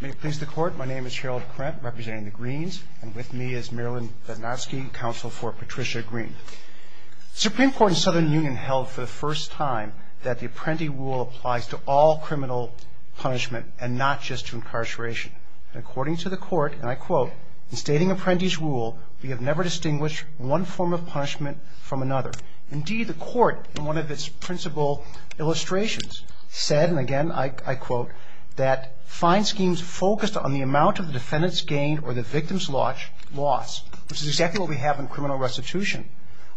May it please the court, my name is Gerald Krent, representing the Greens, and with me is Marilyn Bednarski, counsel for Patricia Green. The Supreme Court in the Southern Union held for the first time that the Apprenti Rule applies to all criminal punishment and not just to incarceration. According to the court, and I quote, in stating Apprenti's Rule, we have never distinguished one form of punishment from another. Indeed, the court, in one of its principal illustrations, said, and again I quote, that fine schemes focused on the amount of the defendant's gain or the victim's loss, which is exactly what we have in criminal restitution,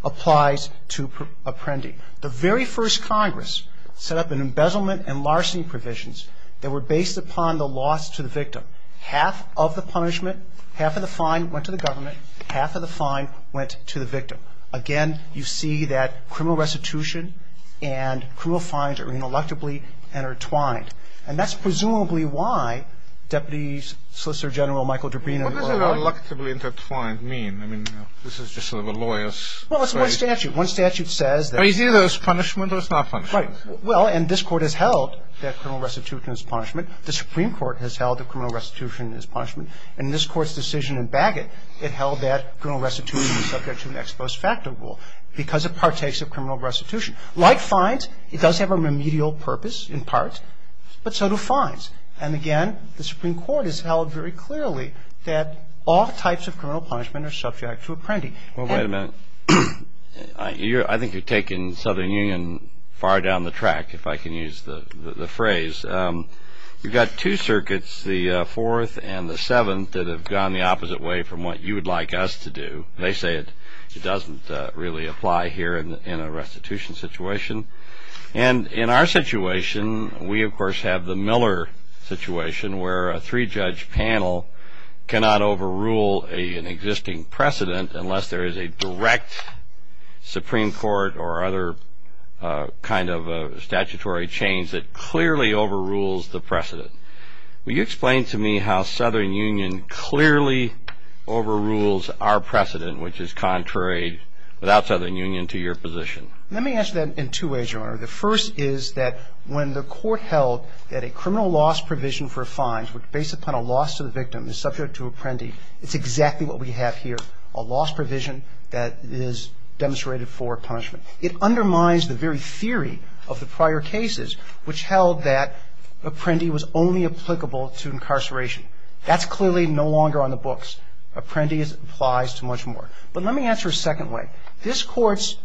applies to Apprenti. The very first Congress set up an embezzlement and larceny provisions that were based upon the loss to the victim. Half of the punishment, half of the fine went to the government, half of the fine went to the victim. Again, you see that criminal restitution and criminal fines are ineluctably intertwined. And that's presumably why Deputy Solicitor General Michael Dabrino- What does ineluctably intertwined mean? I mean, this is just sort of a lawyer's- Well, it's one statute. One statute says that- It's either as punishment or it's not punishment. Right. Well, and this Court has held that criminal restitution is punishment. The Supreme Court has held that criminal restitution is punishment. And in this Court's decision in Bagot, it held that criminal restitution is subject to an ex post facto rule because it partakes of criminal restitution. Like fines, it does have a remedial purpose in part, but so do fines. And again, the Supreme Court has held very clearly that all types of criminal punishment are subject to Apprenti. Well, wait a minute. I think you're taking Southern Union far down the track, if I can use the phrase. You've got two circuits, the Fourth and the Seventh, that have gone the opposite way from what you would like us to do. They say it doesn't really apply here in a restitution situation. And in our situation, we, of course, have the Miller situation where a three-judge panel cannot overrule an existing precedent unless there is a direct Supreme Court or other kind of statutory change that clearly overrules the precedent. Will you explain to me how Southern Union clearly overrules our precedent, which is contrary, without Southern Union, to your position? Let me answer that in two ways, Your Honor. The first is that when the Court held that a criminal loss provision for a fine based upon a loss to the victim is subject to Apprenti, it's exactly what we have here, a loss provision that is demonstrated for punishment. It undermines the very theory of the prior cases, which held that Apprenti was only applicable to incarceration. That's clearly no longer on the books. Apprenti applies to much more. But let me answer a second way. This Court's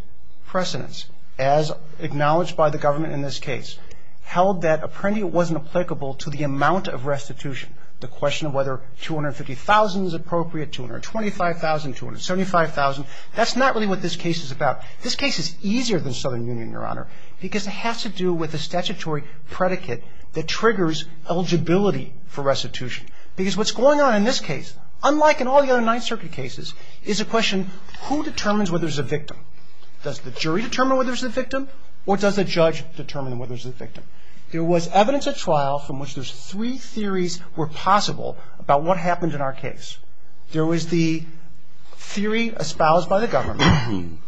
precedence, as acknowledged by the government in this case, held that Apprenti wasn't applicable to the amount of restitution, the question of whether $250,000 is appropriate, $225,000, $275,000. That's not really what this case is about. This case is easier than Southern Union, Your Honor, because it has to do with a statutory predicate that triggers eligibility for restitution. Because what's going on in this case, unlike in all the other Ninth Circuit cases, is a question, who determines whether it's a victim? Does the jury determine whether it's a victim, or does the judge determine whether it's a victim? There was evidence at trial from which those three theories were possible about what happened in our case. There was the theory espoused by the government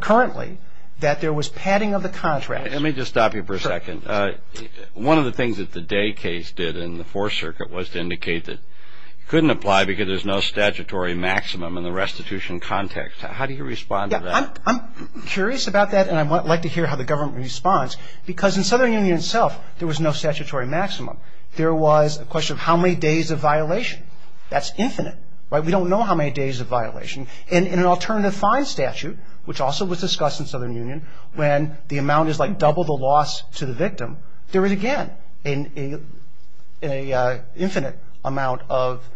currently that there was padding of the contract. Let me just stop you for a second. One of the things that the Day case did in the Fourth Circuit was to indicate that you couldn't apply because there's no statutory maximum in the restitution context. How do you respond to that? I'm curious about that, and I'd like to hear how the government responds. Because in Southern Union itself, there was no statutory maximum. There was a question of how many days of violation. That's infinite. We don't know how many days of violation. In an alternative fine statute, which also was discussed in Southern Union, when the amount is like double the loss to the victim, there is, again, an infinite amount of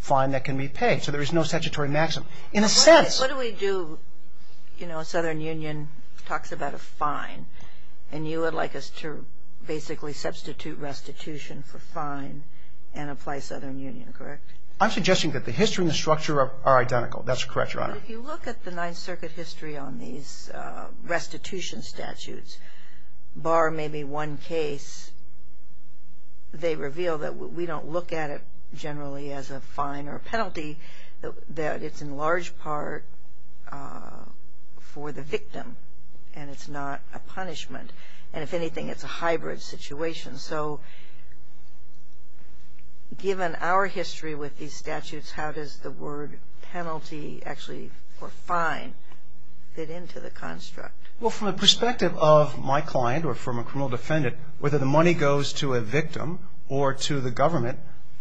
fine that can be paid. So there is no statutory maximum. What do we do? You know, Southern Union talks about a fine, and you would like us to basically substitute restitution for fine and apply Southern Union, correct? I'm suggesting that the history and the structure are identical. That's correct, Your Honor. But if you look at the Ninth Circuit history on these restitution statutes, bar maybe one case, they reveal that we don't look at it generally as a fine or a penalty. That it's in large part for the victim, and it's not a punishment. And if anything, it's a hybrid situation. So given our history with these statutes, how does the word penalty actually, or fine, fit into the construct? Well, from the perspective of my client or from a criminal defendant, whether the money goes to a victim or to the government,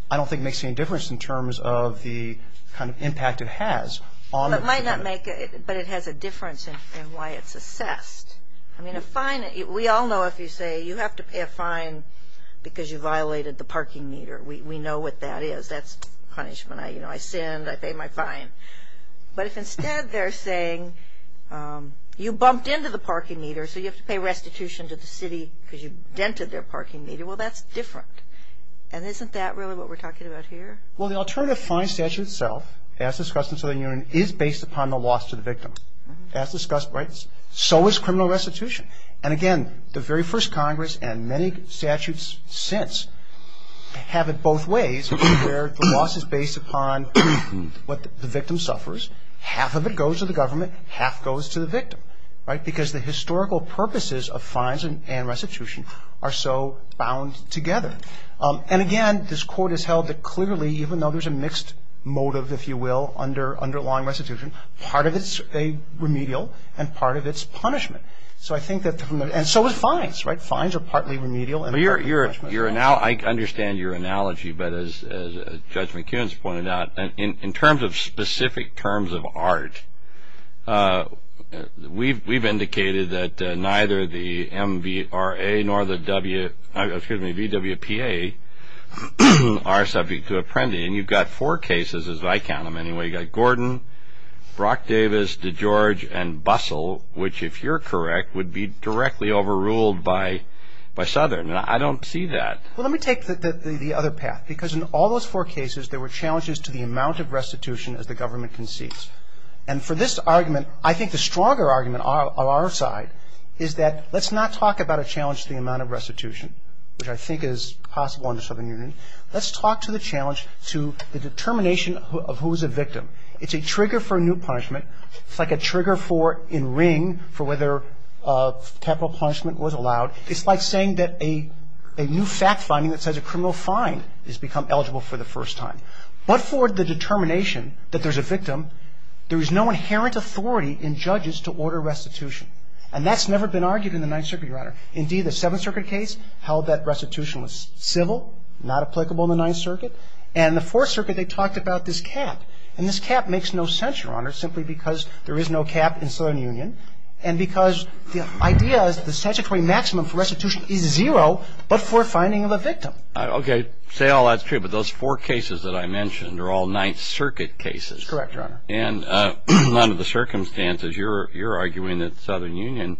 I don't think it makes any difference in terms of the kind of impact it has on the defendant. Well, it might not make it, but it has a difference in why it's assessed. I mean, a fine, we all know if you say you have to pay a fine because you violated the parking meter. We know what that is. That's punishment. You know, I sinned. I paid my fine. But if instead they're saying you bumped into the parking meter, so you have to pay restitution to the city because you dented their parking meter, well, that's different. And isn't that really what we're talking about here? Well, the alternative fine statute itself, as discussed in Southern Union, is based upon the loss to the victim. As discussed, right, so is criminal restitution. And again, the very first Congress and many statutes since have it both ways, where the loss is based upon what the victim suffers. Half of it goes to the government. Half goes to the victim, right, because the historical purposes of fines and restitution are so bound together. And, again, this Court has held that clearly, even though there's a mixed motive, if you will, under law and restitution, part of it's remedial and part of it's punishment. So I think that the – and so is fines, right? Fines are partly remedial and partly punishment. Well, I understand your analogy, but as Judge McKeon has pointed out, in terms of specific terms of art, we've indicated that neither the MVRA nor the VWPA are subject to apprending. And you've got four cases, as I count them anyway. You've got Gordon, Brock Davis, DeGeorge, and Bussell, which, if you're correct, would be directly overruled by Southern. I mean, I don't see that. Well, let me take the other path. Because in all those four cases, there were challenges to the amount of restitution as the government concedes. And for this argument, I think the stronger argument on our side is that let's not talk about a challenge to the amount of restitution, which I think is possible under Southern Union. Let's talk to the challenge to the determination of who is a victim. It's a trigger for new punishment. It's like a trigger for, in ring, for whether capital punishment was allowed. It's like saying that a new fact finding that says a criminal fine has become eligible for the first time. But for the determination that there's a victim, there is no inherent authority in judges to order restitution. And that's never been argued in the Ninth Circuit, Your Honor. Indeed, the Seventh Circuit case held that restitution was civil, not applicable in the Ninth Circuit. And the Fourth Circuit, they talked about this cap. And this cap makes no sense, Your Honor, simply because there is no cap in Southern Union. And because the idea is the statutory maximum for restitution is zero, but for finding of a victim. Okay. Say all that's true, but those four cases that I mentioned are all Ninth Circuit cases. Correct, Your Honor. And under the circumstances, you're arguing that Southern Union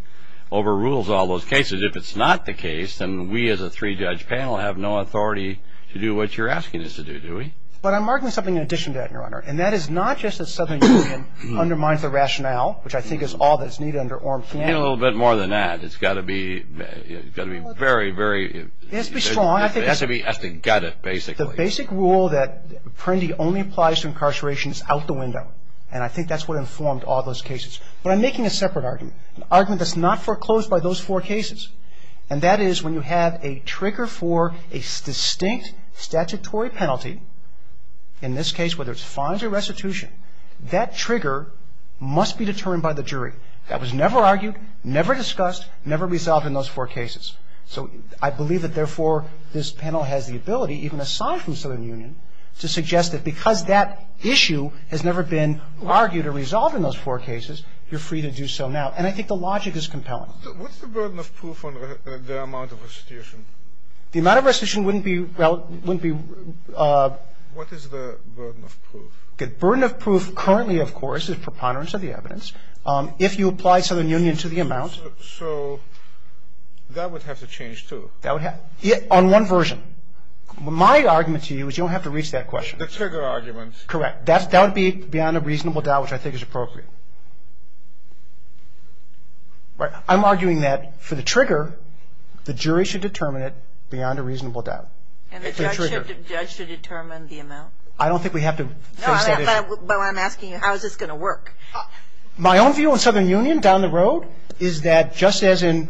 overrules all those cases. If it's not the case, then we as a three-judge panel have no authority to do what you're asking us to do, do we? But I'm arguing something in addition to that, Your Honor, and that is not just that Southern Union undermines the rationale, which I think is all that's needed under Orm Flanagan. You need a little bit more than that. It's got to be very, very... It has to be strong. It has to be gutted, basically. The basic rule that Apprendi only applies to incarceration is out the window. And I think that's what informed all those cases. But I'm making a separate argument, an argument that's not foreclosed by those four cases. And that is when you have a trigger for a distinct statutory penalty, in this case whether it's fines or restitution, that trigger must be determined by the jury. That was never argued, never discussed, never resolved in those four cases. So I believe that, therefore, this panel has the ability, even aside from Southern Union, to suggest that because that issue has never been argued or resolved in those four cases, you're free to do so now. And I think the logic is compelling. What's the burden of proof on the amount of restitution? The amount of restitution wouldn't be... What is the burden of proof? The burden of proof currently, of course, is preponderance of the evidence. If you apply Southern Union to the amount... So that would have to change, too. That would have... on one version. My argument to you is you don't have to reach that question. The trigger argument. Correct. That would be beyond a reasonable doubt, which I think is appropriate. I'm arguing that for the trigger, the jury should determine it beyond a reasonable doubt. And the judge should determine the amount? I don't think we have to face that issue. No, but I'm asking you, how is this going to work? My own view on Southern Union down the road is that just as in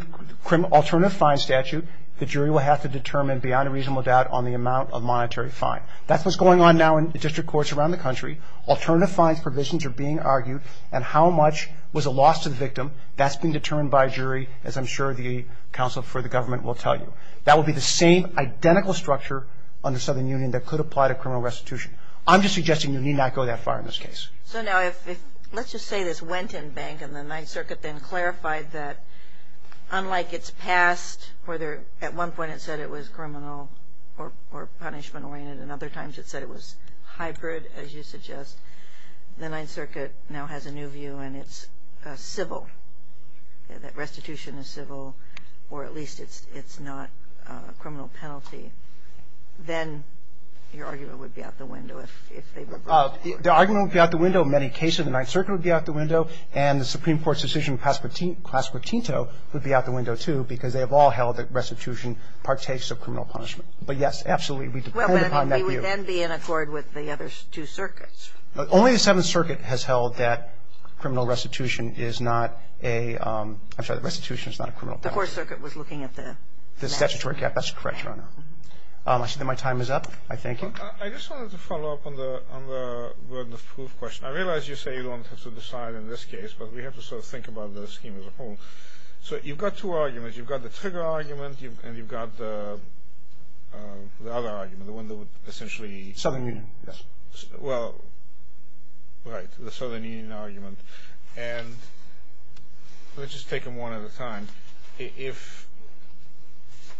alternative fine statute, the jury will have to determine beyond a reasonable doubt on the amount of monetary fine. That's what's going on now in the district courts around the country. Alternative fines provisions are being argued. And how much was a loss to the victim, that's being determined by a jury, as I'm sure the counsel for the government will tell you. That would be the same identical structure under Southern Union that could apply to criminal restitution. I'm just suggesting you need not go that far in this case. So now if... let's just say this went in bank and the Ninth Circuit then clarified that, unlike its past where at one point it said it was criminal or punishment-oriented and other times it said it was hybrid, as you suggest, the Ninth Circuit now has a new view and it's civil, that restitution is civil or at least it's not a criminal penalty. Then your argument would be out the window if they were... The argument would be out the window in many cases. The Ninth Circuit would be out the window. And the Supreme Court's decision with Clasper Tinto would be out the window, too, because they have all held that restitution partakes of criminal punishment. But, yes, absolutely, we depend upon that view. And he would then be in accord with the other two circuits. Only the Seventh Circuit has held that criminal restitution is not a... I'm sorry, that restitution is not a criminal penalty. The Fourth Circuit was looking at the... The statutory gap. That's correct, Your Honor. I see that my time is up. I thank you. I just wanted to follow up on the burden of proof question. I realize you say you don't have to decide in this case, but we have to sort of think about the scheme as a whole. So you've got two arguments. You've got the trigger argument and you've got the other argument, the one that would essentially... Southern Union, yes. Well, right, the Southern Union argument. And let's just take them one at a time. If...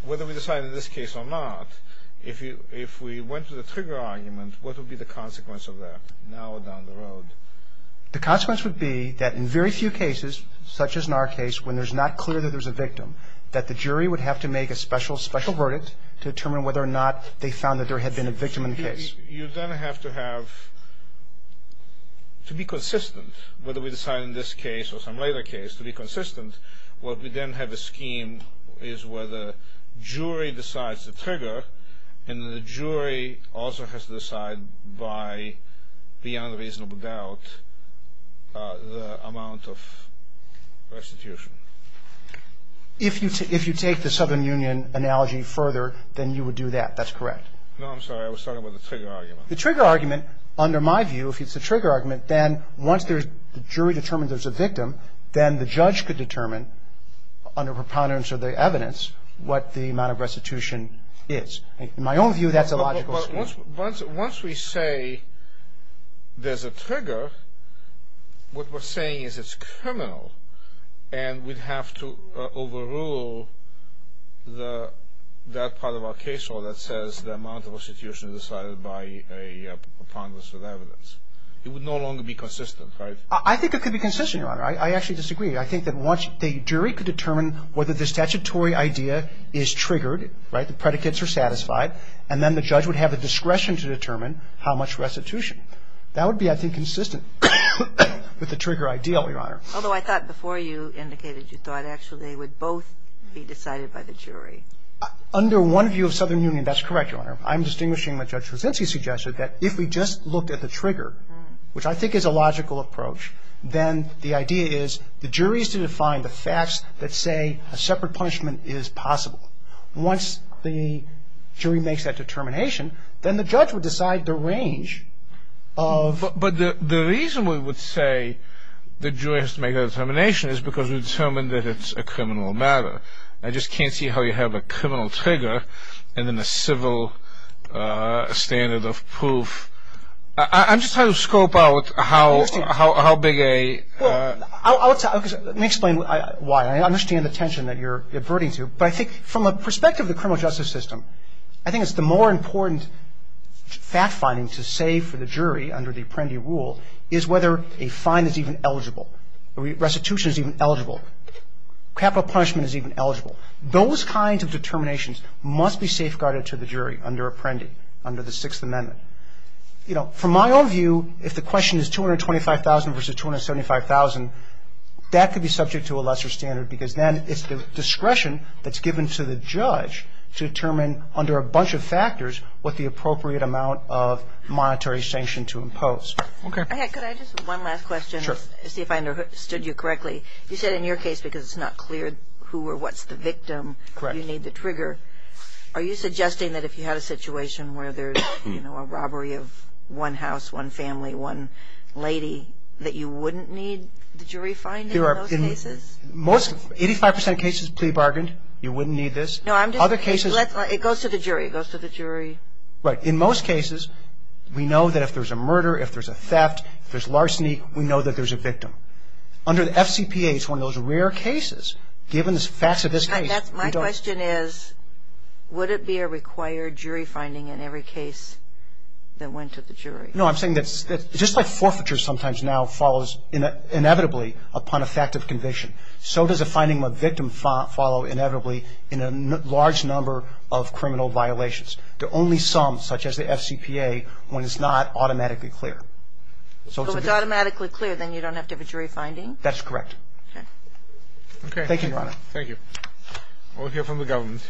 whether we decide in this case or not, if we went to the trigger argument, what would be the consequence of that, now or down the road? The consequence would be that in very few cases, such as in our case, when it's not clear that there's a victim, that the jury would have to make a special verdict to determine whether or not they found that there had been a victim in the case. You then have to have... To be consistent, whether we decide in this case or some later case, to be consistent, what we then have a scheme is where the jury decides the trigger and then the jury also has to decide by, beyond reasonable doubt, the amount of restitution. If you take the Southern Union analogy further, then you would do that. That's correct. No, I'm sorry. I was talking about the trigger argument. The trigger argument, under my view, if it's the trigger argument, then once the jury determines there's a victim, then the judge could determine under preponderance of the evidence what the amount of restitution is. In my own view, that's a logical scheme. Once we say there's a trigger, what we're saying is it's criminal and we'd have to overrule that part of our case or that says the amount of restitution is decided by a preponderance of evidence. It would no longer be consistent, right? I think it could be consistent, Your Honor. I actually disagree. I think that once the jury could determine whether the statutory idea is triggered, the predicates are satisfied, and then the judge would have the discretion to determine how much restitution. That would be, I think, consistent with the trigger ideal, Your Honor. Although I thought before you indicated you thought, actually, they would both be decided by the jury. Under one view of Southern Union, that's correct, Your Honor. I'm distinguishing what Judge Rosenzi suggested, that if we just looked at the trigger, which I think is a logical approach, then the idea is the jury is to define the facts that say a separate punishment is possible. Once the jury makes that determination, then the judge would decide the range of ---- But the reason we would say the jury has to make that determination is because we determined that it's a criminal matter. I just can't see how you have a criminal trigger and then a civil standard of proof. I'm just trying to scope out how big a ---- Let me explain why. I understand the tension that you're averting to, but I think from a perspective of the criminal justice system, I think it's the more important fact-finding to say for the jury under the Apprendi rule is whether a fine is even eligible, restitution is even eligible, capital punishment is even eligible. Those kinds of determinations must be safeguarded to the jury under Apprendi, under the Sixth Amendment. From my own view, if the question is $225,000 versus $275,000, that could be subject to a lesser standard because then it's the discretion that's given to the judge to determine, under a bunch of factors, what the appropriate amount of monetary sanction to impose. Okay. Could I just have one last question to see if I understood you correctly? You said in your case, because it's not clear who or what's the victim you need to trigger. Are you suggesting that if you had a situation where there's a robbery of one house, one family, one lady, that you wouldn't need the jury finding in those cases? Most, 85 percent of cases, plea bargained. You wouldn't need this. No, I'm just. Other cases. It goes to the jury. It goes to the jury. Right. In most cases, we know that if there's a murder, if there's a theft, if there's larceny, we know that there's a victim. Under the FCPA, it's one of those rare cases, given the facts of this case. My question is, would it be a required jury finding in every case that went to the jury? No, I'm saying that just like forfeiture sometimes now follows inevitably upon a fact of conviction, so does a finding of a victim follow inevitably in a large number of criminal violations. There are only some, such as the FCPA, when it's not automatically clear. So if it's automatically clear, then you don't have to have a jury finding? That's correct. Okay. Okay. Thank you, Your Honor. Thank you. We'll hear from the government.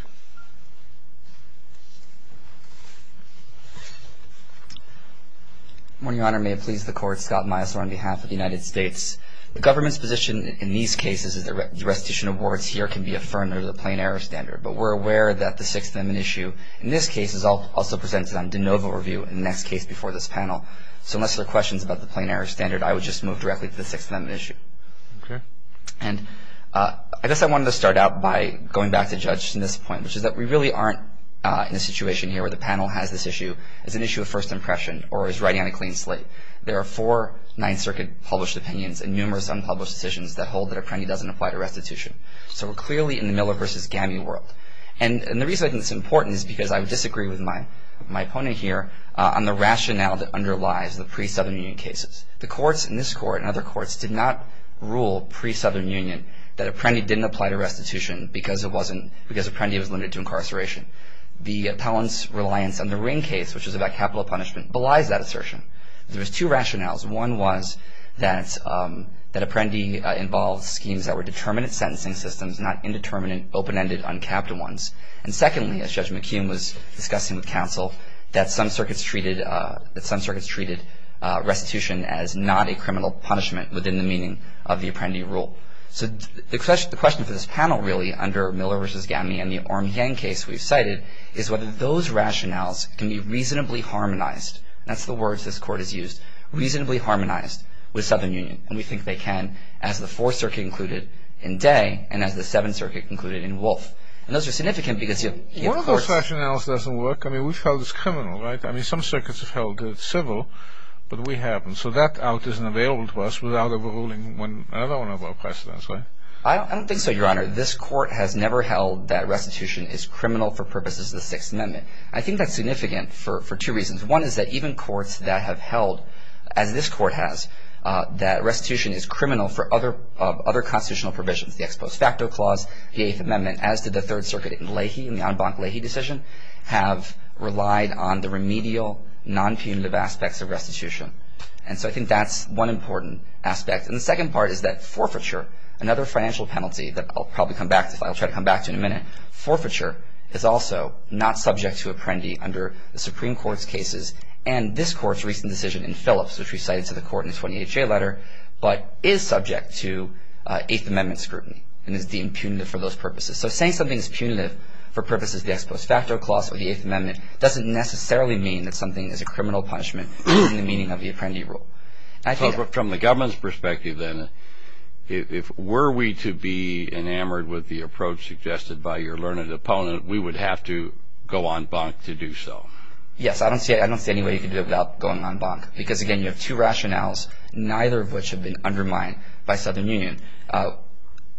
Good morning, Your Honor. May it please the Court, Scott Meisler on behalf of the United States. The government's position in these cases is that restitution awards here can be affirmed under the plain error standard, but we're aware that the Sixth Amendment issue in this case is also presented on de novo review in the next case before this panel. So unless there are questions about the plain error standard, I would just move directly to the Sixth Amendment issue. Okay. And I guess I wanted to start out by going back to Judge Smith's point, which is that we really aren't in a situation here where the panel has this issue as an issue of first impression or is writing on a clean slate. There are four Ninth Circuit published opinions and numerous unpublished decisions that hold that a penny doesn't apply to restitution. So we're clearly in the Miller v. Gammey world. And the reason I think it's important is because I would disagree with my opponent here on the rationale that underlies the pre-Southern Union cases. The courts in this court and other courts did not rule pre-Southern Union that a penny didn't apply to restitution because a penny was limited to incarceration. The appellant's reliance on the Ring case, which is about capital punishment, belies that assertion. There was two rationales. One was that a penny involved schemes that were determinate sentencing systems, not indeterminate, open-ended, uncapped ones. And secondly, as Judge McKeon was discussing with counsel, that some circuits treated restitution as not a criminal punishment within the meaning of the apprendee rule. So the question for this panel, really, under Miller v. Gammey and the Orm Yang case we've cited, is whether those rationales can be reasonably harmonized. That's the words this court has used, reasonably harmonized with Southern Union. And we think they can as the Fourth Circuit concluded in Day and as the Seventh Circuit concluded in Wolf. And those are significant because you have courts- One of those rationales doesn't work. I mean, we've held it's criminal, right? I mean, some circuits have held it civil, but we haven't. So that out isn't available to us without overruling another one of our precedents, right? I don't think so, Your Honor. This court has never held that restitution is criminal for purposes of the Sixth Amendment. I think that's significant for two reasons. One is that even courts that have held, as this court has, that restitution is criminal for other constitutional provisions, the Ex Post Facto Clause, the Eighth Amendment, as did the Third Circuit in Leahy, in the en banc Leahy decision, have relied on the remedial, non-punitive aspects of restitution. And so I think that's one important aspect. And the second part is that forfeiture, another financial penalty that I'll probably come back to, that I'll try to come back to in a minute, forfeiture is also not subject to apprendee under the Supreme Court's cases. And this court's recent decision in Phillips, which we cited to the court in the 20HA letter, but is subject to Eighth Amendment scrutiny and is deemed punitive for those purposes. So saying something is punitive for purposes of the Ex Post Facto Clause or the Eighth Amendment doesn't necessarily mean that something is a criminal punishment in the meaning of the apprendee rule. So from the government's perspective then, if were we to be enamored with the approach suggested by your learned opponent, we would have to go en banc to do so. Yes, I don't see any way you could do it without going en banc. Because, again, you have two rationales, neither of which have been undermined by Southern Union.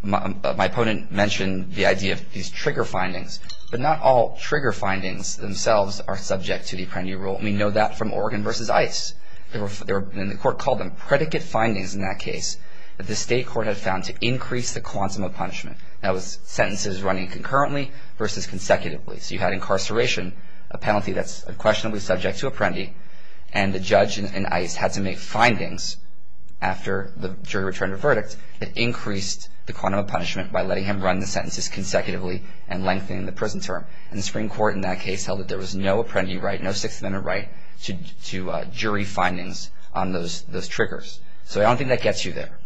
My opponent mentioned the idea of these trigger findings. But not all trigger findings themselves are subject to the apprendee rule. And we know that from Oregon v. Ice. And the court called them predicate findings in that case that the state court had found to increase the quantum of punishment. That was sentences running concurrently versus consecutively. So you had incarceration, a penalty that's unquestionably subject to apprendee, and the judge in Ice had to make findings after the jury returned a verdict that increased the quantum of punishment by letting him run the sentences consecutively and lengthening the prison term. And the Supreme Court in that case held that there was no apprendee right, no Sixth Amendment right to jury findings on those triggers. So I don't think that gets you there.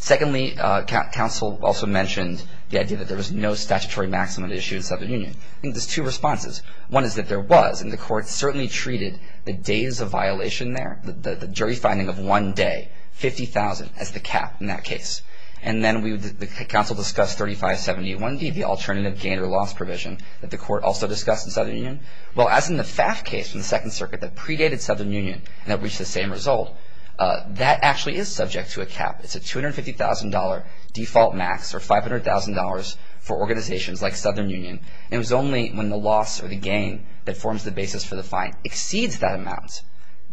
Secondly, counsel also mentioned the idea that there was no statutory maximum issue in Southern Union. I think there's two responses. One is that there was, and the court certainly treated the days of violation there, the jury finding of one day, 50,000, as the cap in that case. And then the counsel discussed 3571D, the alternative gain or loss provision, that the court also discussed in Southern Union. Well, as in the FAF case in the Second Circuit that predated Southern Union and that reached the same result, that actually is subject to a cap. It's a $250,000 default max or $500,000 for organizations like Southern Union. And it was only when the loss or the gain that forms the basis for the fine exceeds that amount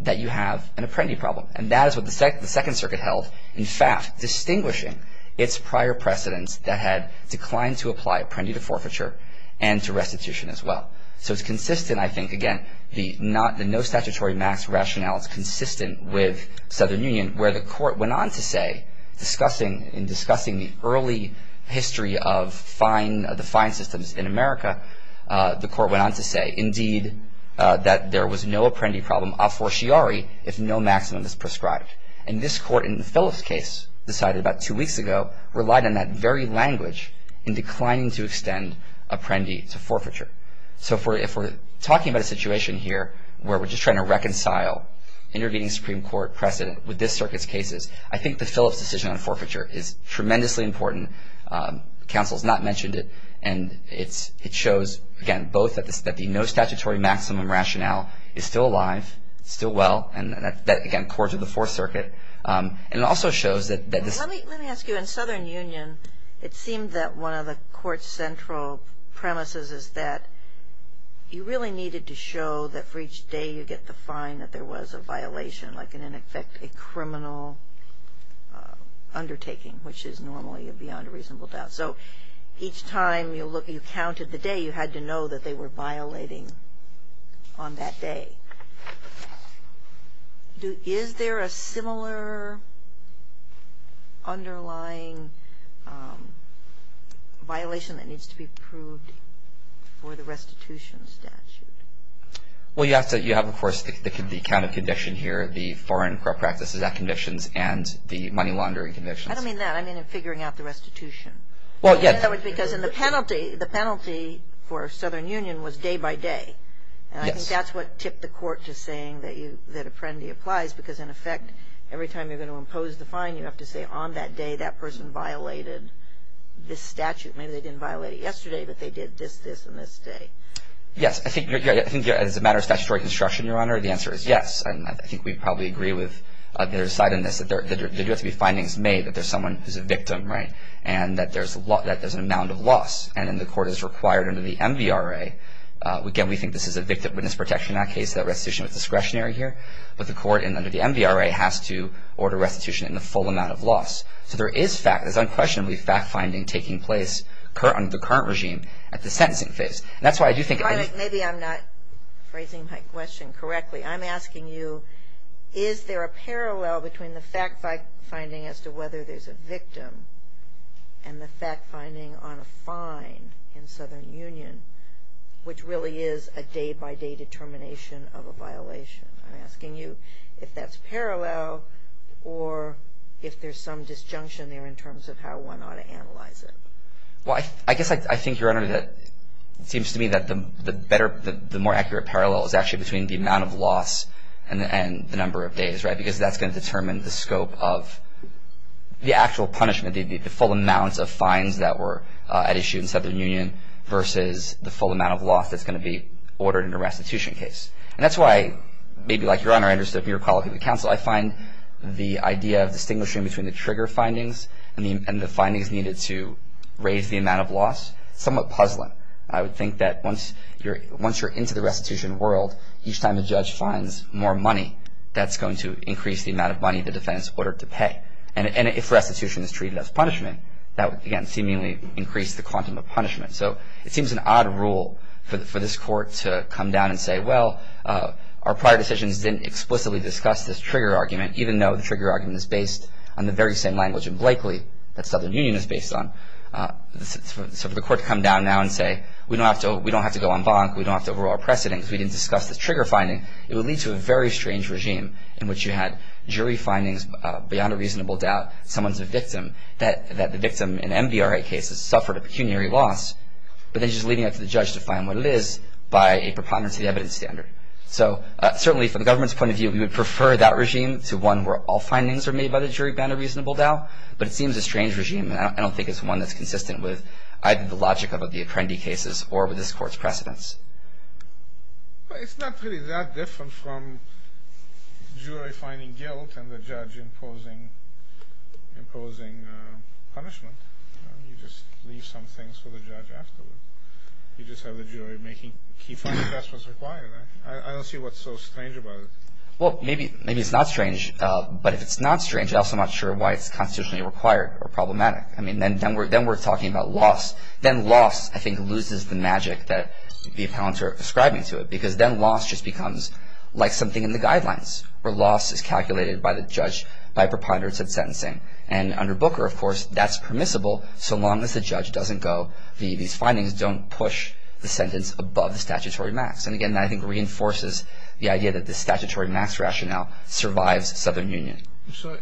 that you have an apprendee problem. And that is what the Second Circuit held. In fact, distinguishing its prior precedents that had declined to apply apprendee to forfeiture and to restitution as well. So it's consistent, I think, again, the no statutory max rationale is consistent with Southern Union where the court went on to say, in discussing the early history of the fine systems in America, the court went on to say, indeed, that there was no apprendee problem a fortiari if no maximum is prescribed. And this court, in the Phillips case decided about two weeks ago, relied on that very language in declining to extend apprendee to forfeiture. So if we're talking about a situation here where we're just trying to reconcile intervening Supreme Court precedent with this circuit's cases, I think the Phillips decision on forfeiture is tremendously important. Counsel has not mentioned it. And it shows, again, both that the no statutory maximum rationale is still alive, still well, and that, again, core to the Fourth Circuit. And it also shows that this – Let me ask you, in Southern Union, it seemed that one of the court's central premises is that you really needed to show that for each day you get the fine that there was a violation, like in effect a criminal undertaking, which is normally beyond a reasonable doubt. So each time you counted the day, you had to know that they were violating on that day. Is there a similar underlying violation that needs to be proved for the restitution statute? Well, you have, of course, the count of condition here, the Foreign Corrupt Practices Act convictions, and the money laundering convictions. I don't mean that. I mean in figuring out the restitution. Well, yes. Because the penalty for Southern Union was day by day. Yes. I think that's what tipped the court to saying that a penalty applies, because, in effect, every time you're going to impose the fine, you have to say on that day that person violated this statute. Maybe they didn't violate it yesterday, but they did this, this, and this day. Yes. I think as a matter of statutory construction, Your Honor, the answer is yes. And I think we probably agree with their side on this, that there do have to be findings made that there's someone who's a victim, right, and that there's an amount of loss. And then the court is required under the MVRA. Again, we think this is a witness protection in that case, that restitution is discretionary here. But the court, under the MVRA, has to order restitution in the full amount of loss. So there is fact. There's unquestionably fact-finding taking place under the current regime at the sentencing phase. And that's why I do think – Maybe I'm not phrasing my question correctly. I'm asking you, is there a parallel between the fact-finding as to whether there's a victim and the fact-finding on a fine in Southern Union, which really is a day-by-day determination of a violation? I'm asking you if that's parallel or if there's some disjunction there in terms of how one ought to analyze it. Well, I guess I think, Your Honor, that it seems to me that the better, the more accurate parallel is actually between the amount of loss and the number of days, right, the actual punishment, the full amount of fines that were at issue in Southern Union versus the full amount of loss that's going to be ordered in a restitution case. And that's why, maybe like Your Honor, I understood from your call to the counsel, I find the idea of distinguishing between the trigger findings and the findings needed to raise the amount of loss somewhat puzzling. I would think that once you're into the restitution world, each time a judge fines more money, that's going to increase the amount of money the defendant's ordered to pay. And if restitution is treated as punishment, that would, again, seemingly increase the quantum of punishment. So it seems an odd rule for this Court to come down and say, well, our prior decisions didn't explicitly discuss this trigger argument, even though the trigger argument is based on the very same language in Blakely that Southern Union is based on. So for the Court to come down now and say, we don't have to go en banc, we don't have to overrule our precedents, we didn't discuss this trigger finding, it would lead to a very strange regime in which you had jury findings beyond a reasonable doubt, someone's a victim, that the victim in MVRA cases suffered a pecuniary loss, but then she's leading up to the judge to fine what it is by a preponderance of the evidence standard. So certainly from the government's point of view, we would prefer that regime to one where all findings are made by the jury beyond a reasonable doubt, but it seems a strange regime, and I don't think it's one that's consistent with either the logic of the Apprendi cases or with this Court's precedents. But it's not really that different from jury finding guilt and the judge imposing punishment. You just leave some things for the judge afterward. You just have the jury making key findings, that's what's required. I don't see what's so strange about it. Well, maybe it's not strange, but if it's not strange, I'm also not sure why it's constitutionally required or problematic. I mean, then we're talking about loss. Then loss, I think, loses the magic that the accountants are ascribing to it because then loss just becomes like something in the guidelines where loss is calculated by the judge by preponderance of sentencing. And under Booker, of course, that's permissible so long as the judge doesn't go, these findings don't push the sentence above the statutory max. And again, that I think reinforces the idea that the statutory max rationale survives Southern Union. So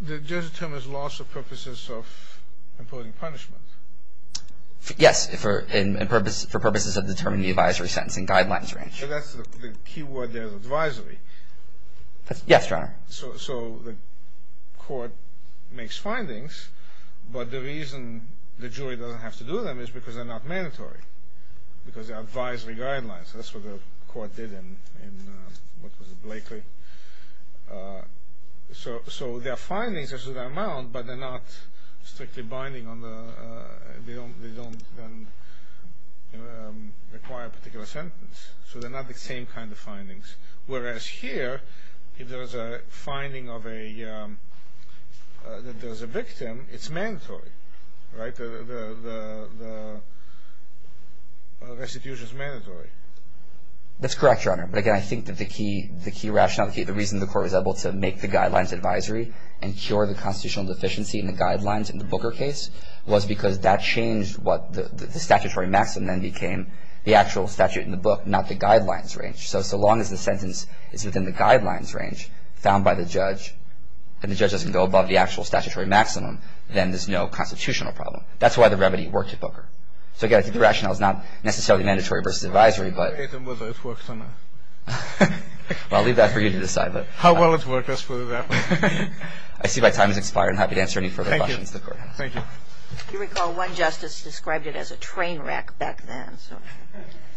the judge determines loss for purposes of imposing punishment? Yes, for purposes of determining the advisory sentencing guidelines range. So that's the key word there is advisory. Yes, Your Honor. So the court makes findings, but the reason the jury doesn't have to do them is because they're not mandatory, because they're advisory guidelines. So that's what the court did in, what was it, Blakely. So their findings are to their amount, but they're not strictly binding on the, they don't require a particular sentence. So they're not the same kind of findings. Whereas here, if there is a finding of a, that there's a victim, it's mandatory. Right? The restitution is mandatory. That's correct, Your Honor. But again, I think that the key rationale, the reason the court was able to make the guidelines advisory and cure the constitutional deficiency in the guidelines in the Booker case was because that changed what the statutory maximum then became, the actual statute in the book, not the guidelines range. So so long as the sentence is within the guidelines range found by the judge and the judge doesn't go above the actual statutory maximum, then there's no constitutional problem. That's why the remedy worked at Booker. So again, I think the rationale is not necessarily mandatory versus advisory, but. I don't know whether it works or not. Well, I'll leave that for you to decide. How well it worked, as far as I know. I see my time has expired. I'm happy to answer any further questions the Court has. Thank you. If you recall, one justice described it as a train wreck back then.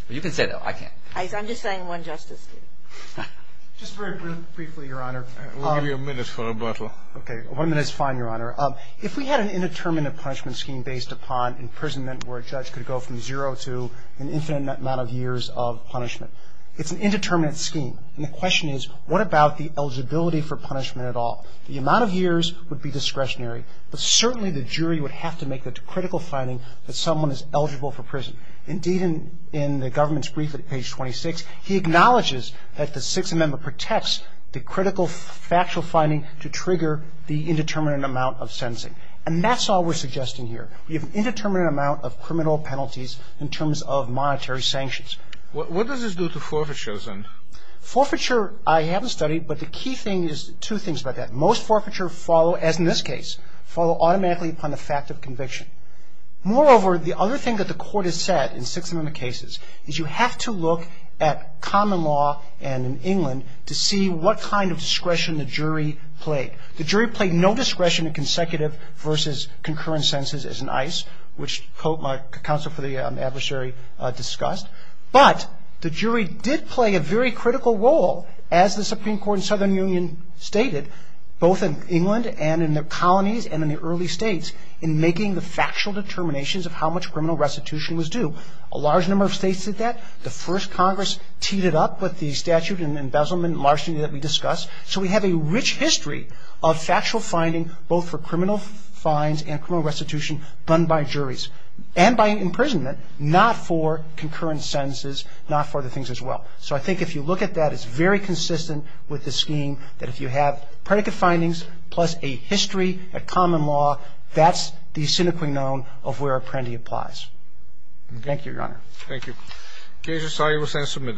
You can say that. I can't. I'm just saying one justice did. Just very briefly, Your Honor. We'll give you a minute for rebuttal. Okay. One minute is fine, Your Honor. If we had an indeterminate punishment scheme based upon imprisonment where a judge could go from zero to an infinite amount of years of punishment, it's an indeterminate scheme. And the question is, what about the eligibility for punishment at all? The amount of years would be discretionary, but certainly the jury would have to make the critical finding that someone is eligible for prison. Indeed, in the government's brief at page 26, he acknowledges that the Sixth Amendment protects the critical factual finding to trigger the indeterminate amount of sentencing. And that's all we're suggesting here. We have an indeterminate amount of criminal penalties in terms of monetary sanctions. What does this do to forfeiture, then? Forfeiture I haven't studied, but the key thing is two things about that. Most forfeiture follow, as in this case, follow automatically upon the fact of conviction. Moreover, the other thing that the Court has said in Sixth Amendment cases is you have to look at common law and in England to see what kind of discretion the jury played. The jury played no discretion in consecutive versus concurrent sentences as in ICE, which my counsel for the adversary discussed. But the jury did play a very critical role, as the Supreme Court in the Southern Union stated, both in England and in the colonies and in the early states, in making the factual determinations of how much criminal restitution was due. A large number of states did that. The first Congress teed it up with the statute and embezzlement and larceny that we discussed. So we have a rich history of factual finding, both for criminal fines and criminal restitution done by juries and by imprisonment, not for concurrent sentences, not for other things as well. So I think if you look at that, it's very consistent with the scheme that if you have predicate findings plus a history of common law, that's the sine qua non of where Apprendi applies. Thank you, Your Honor. Thank you.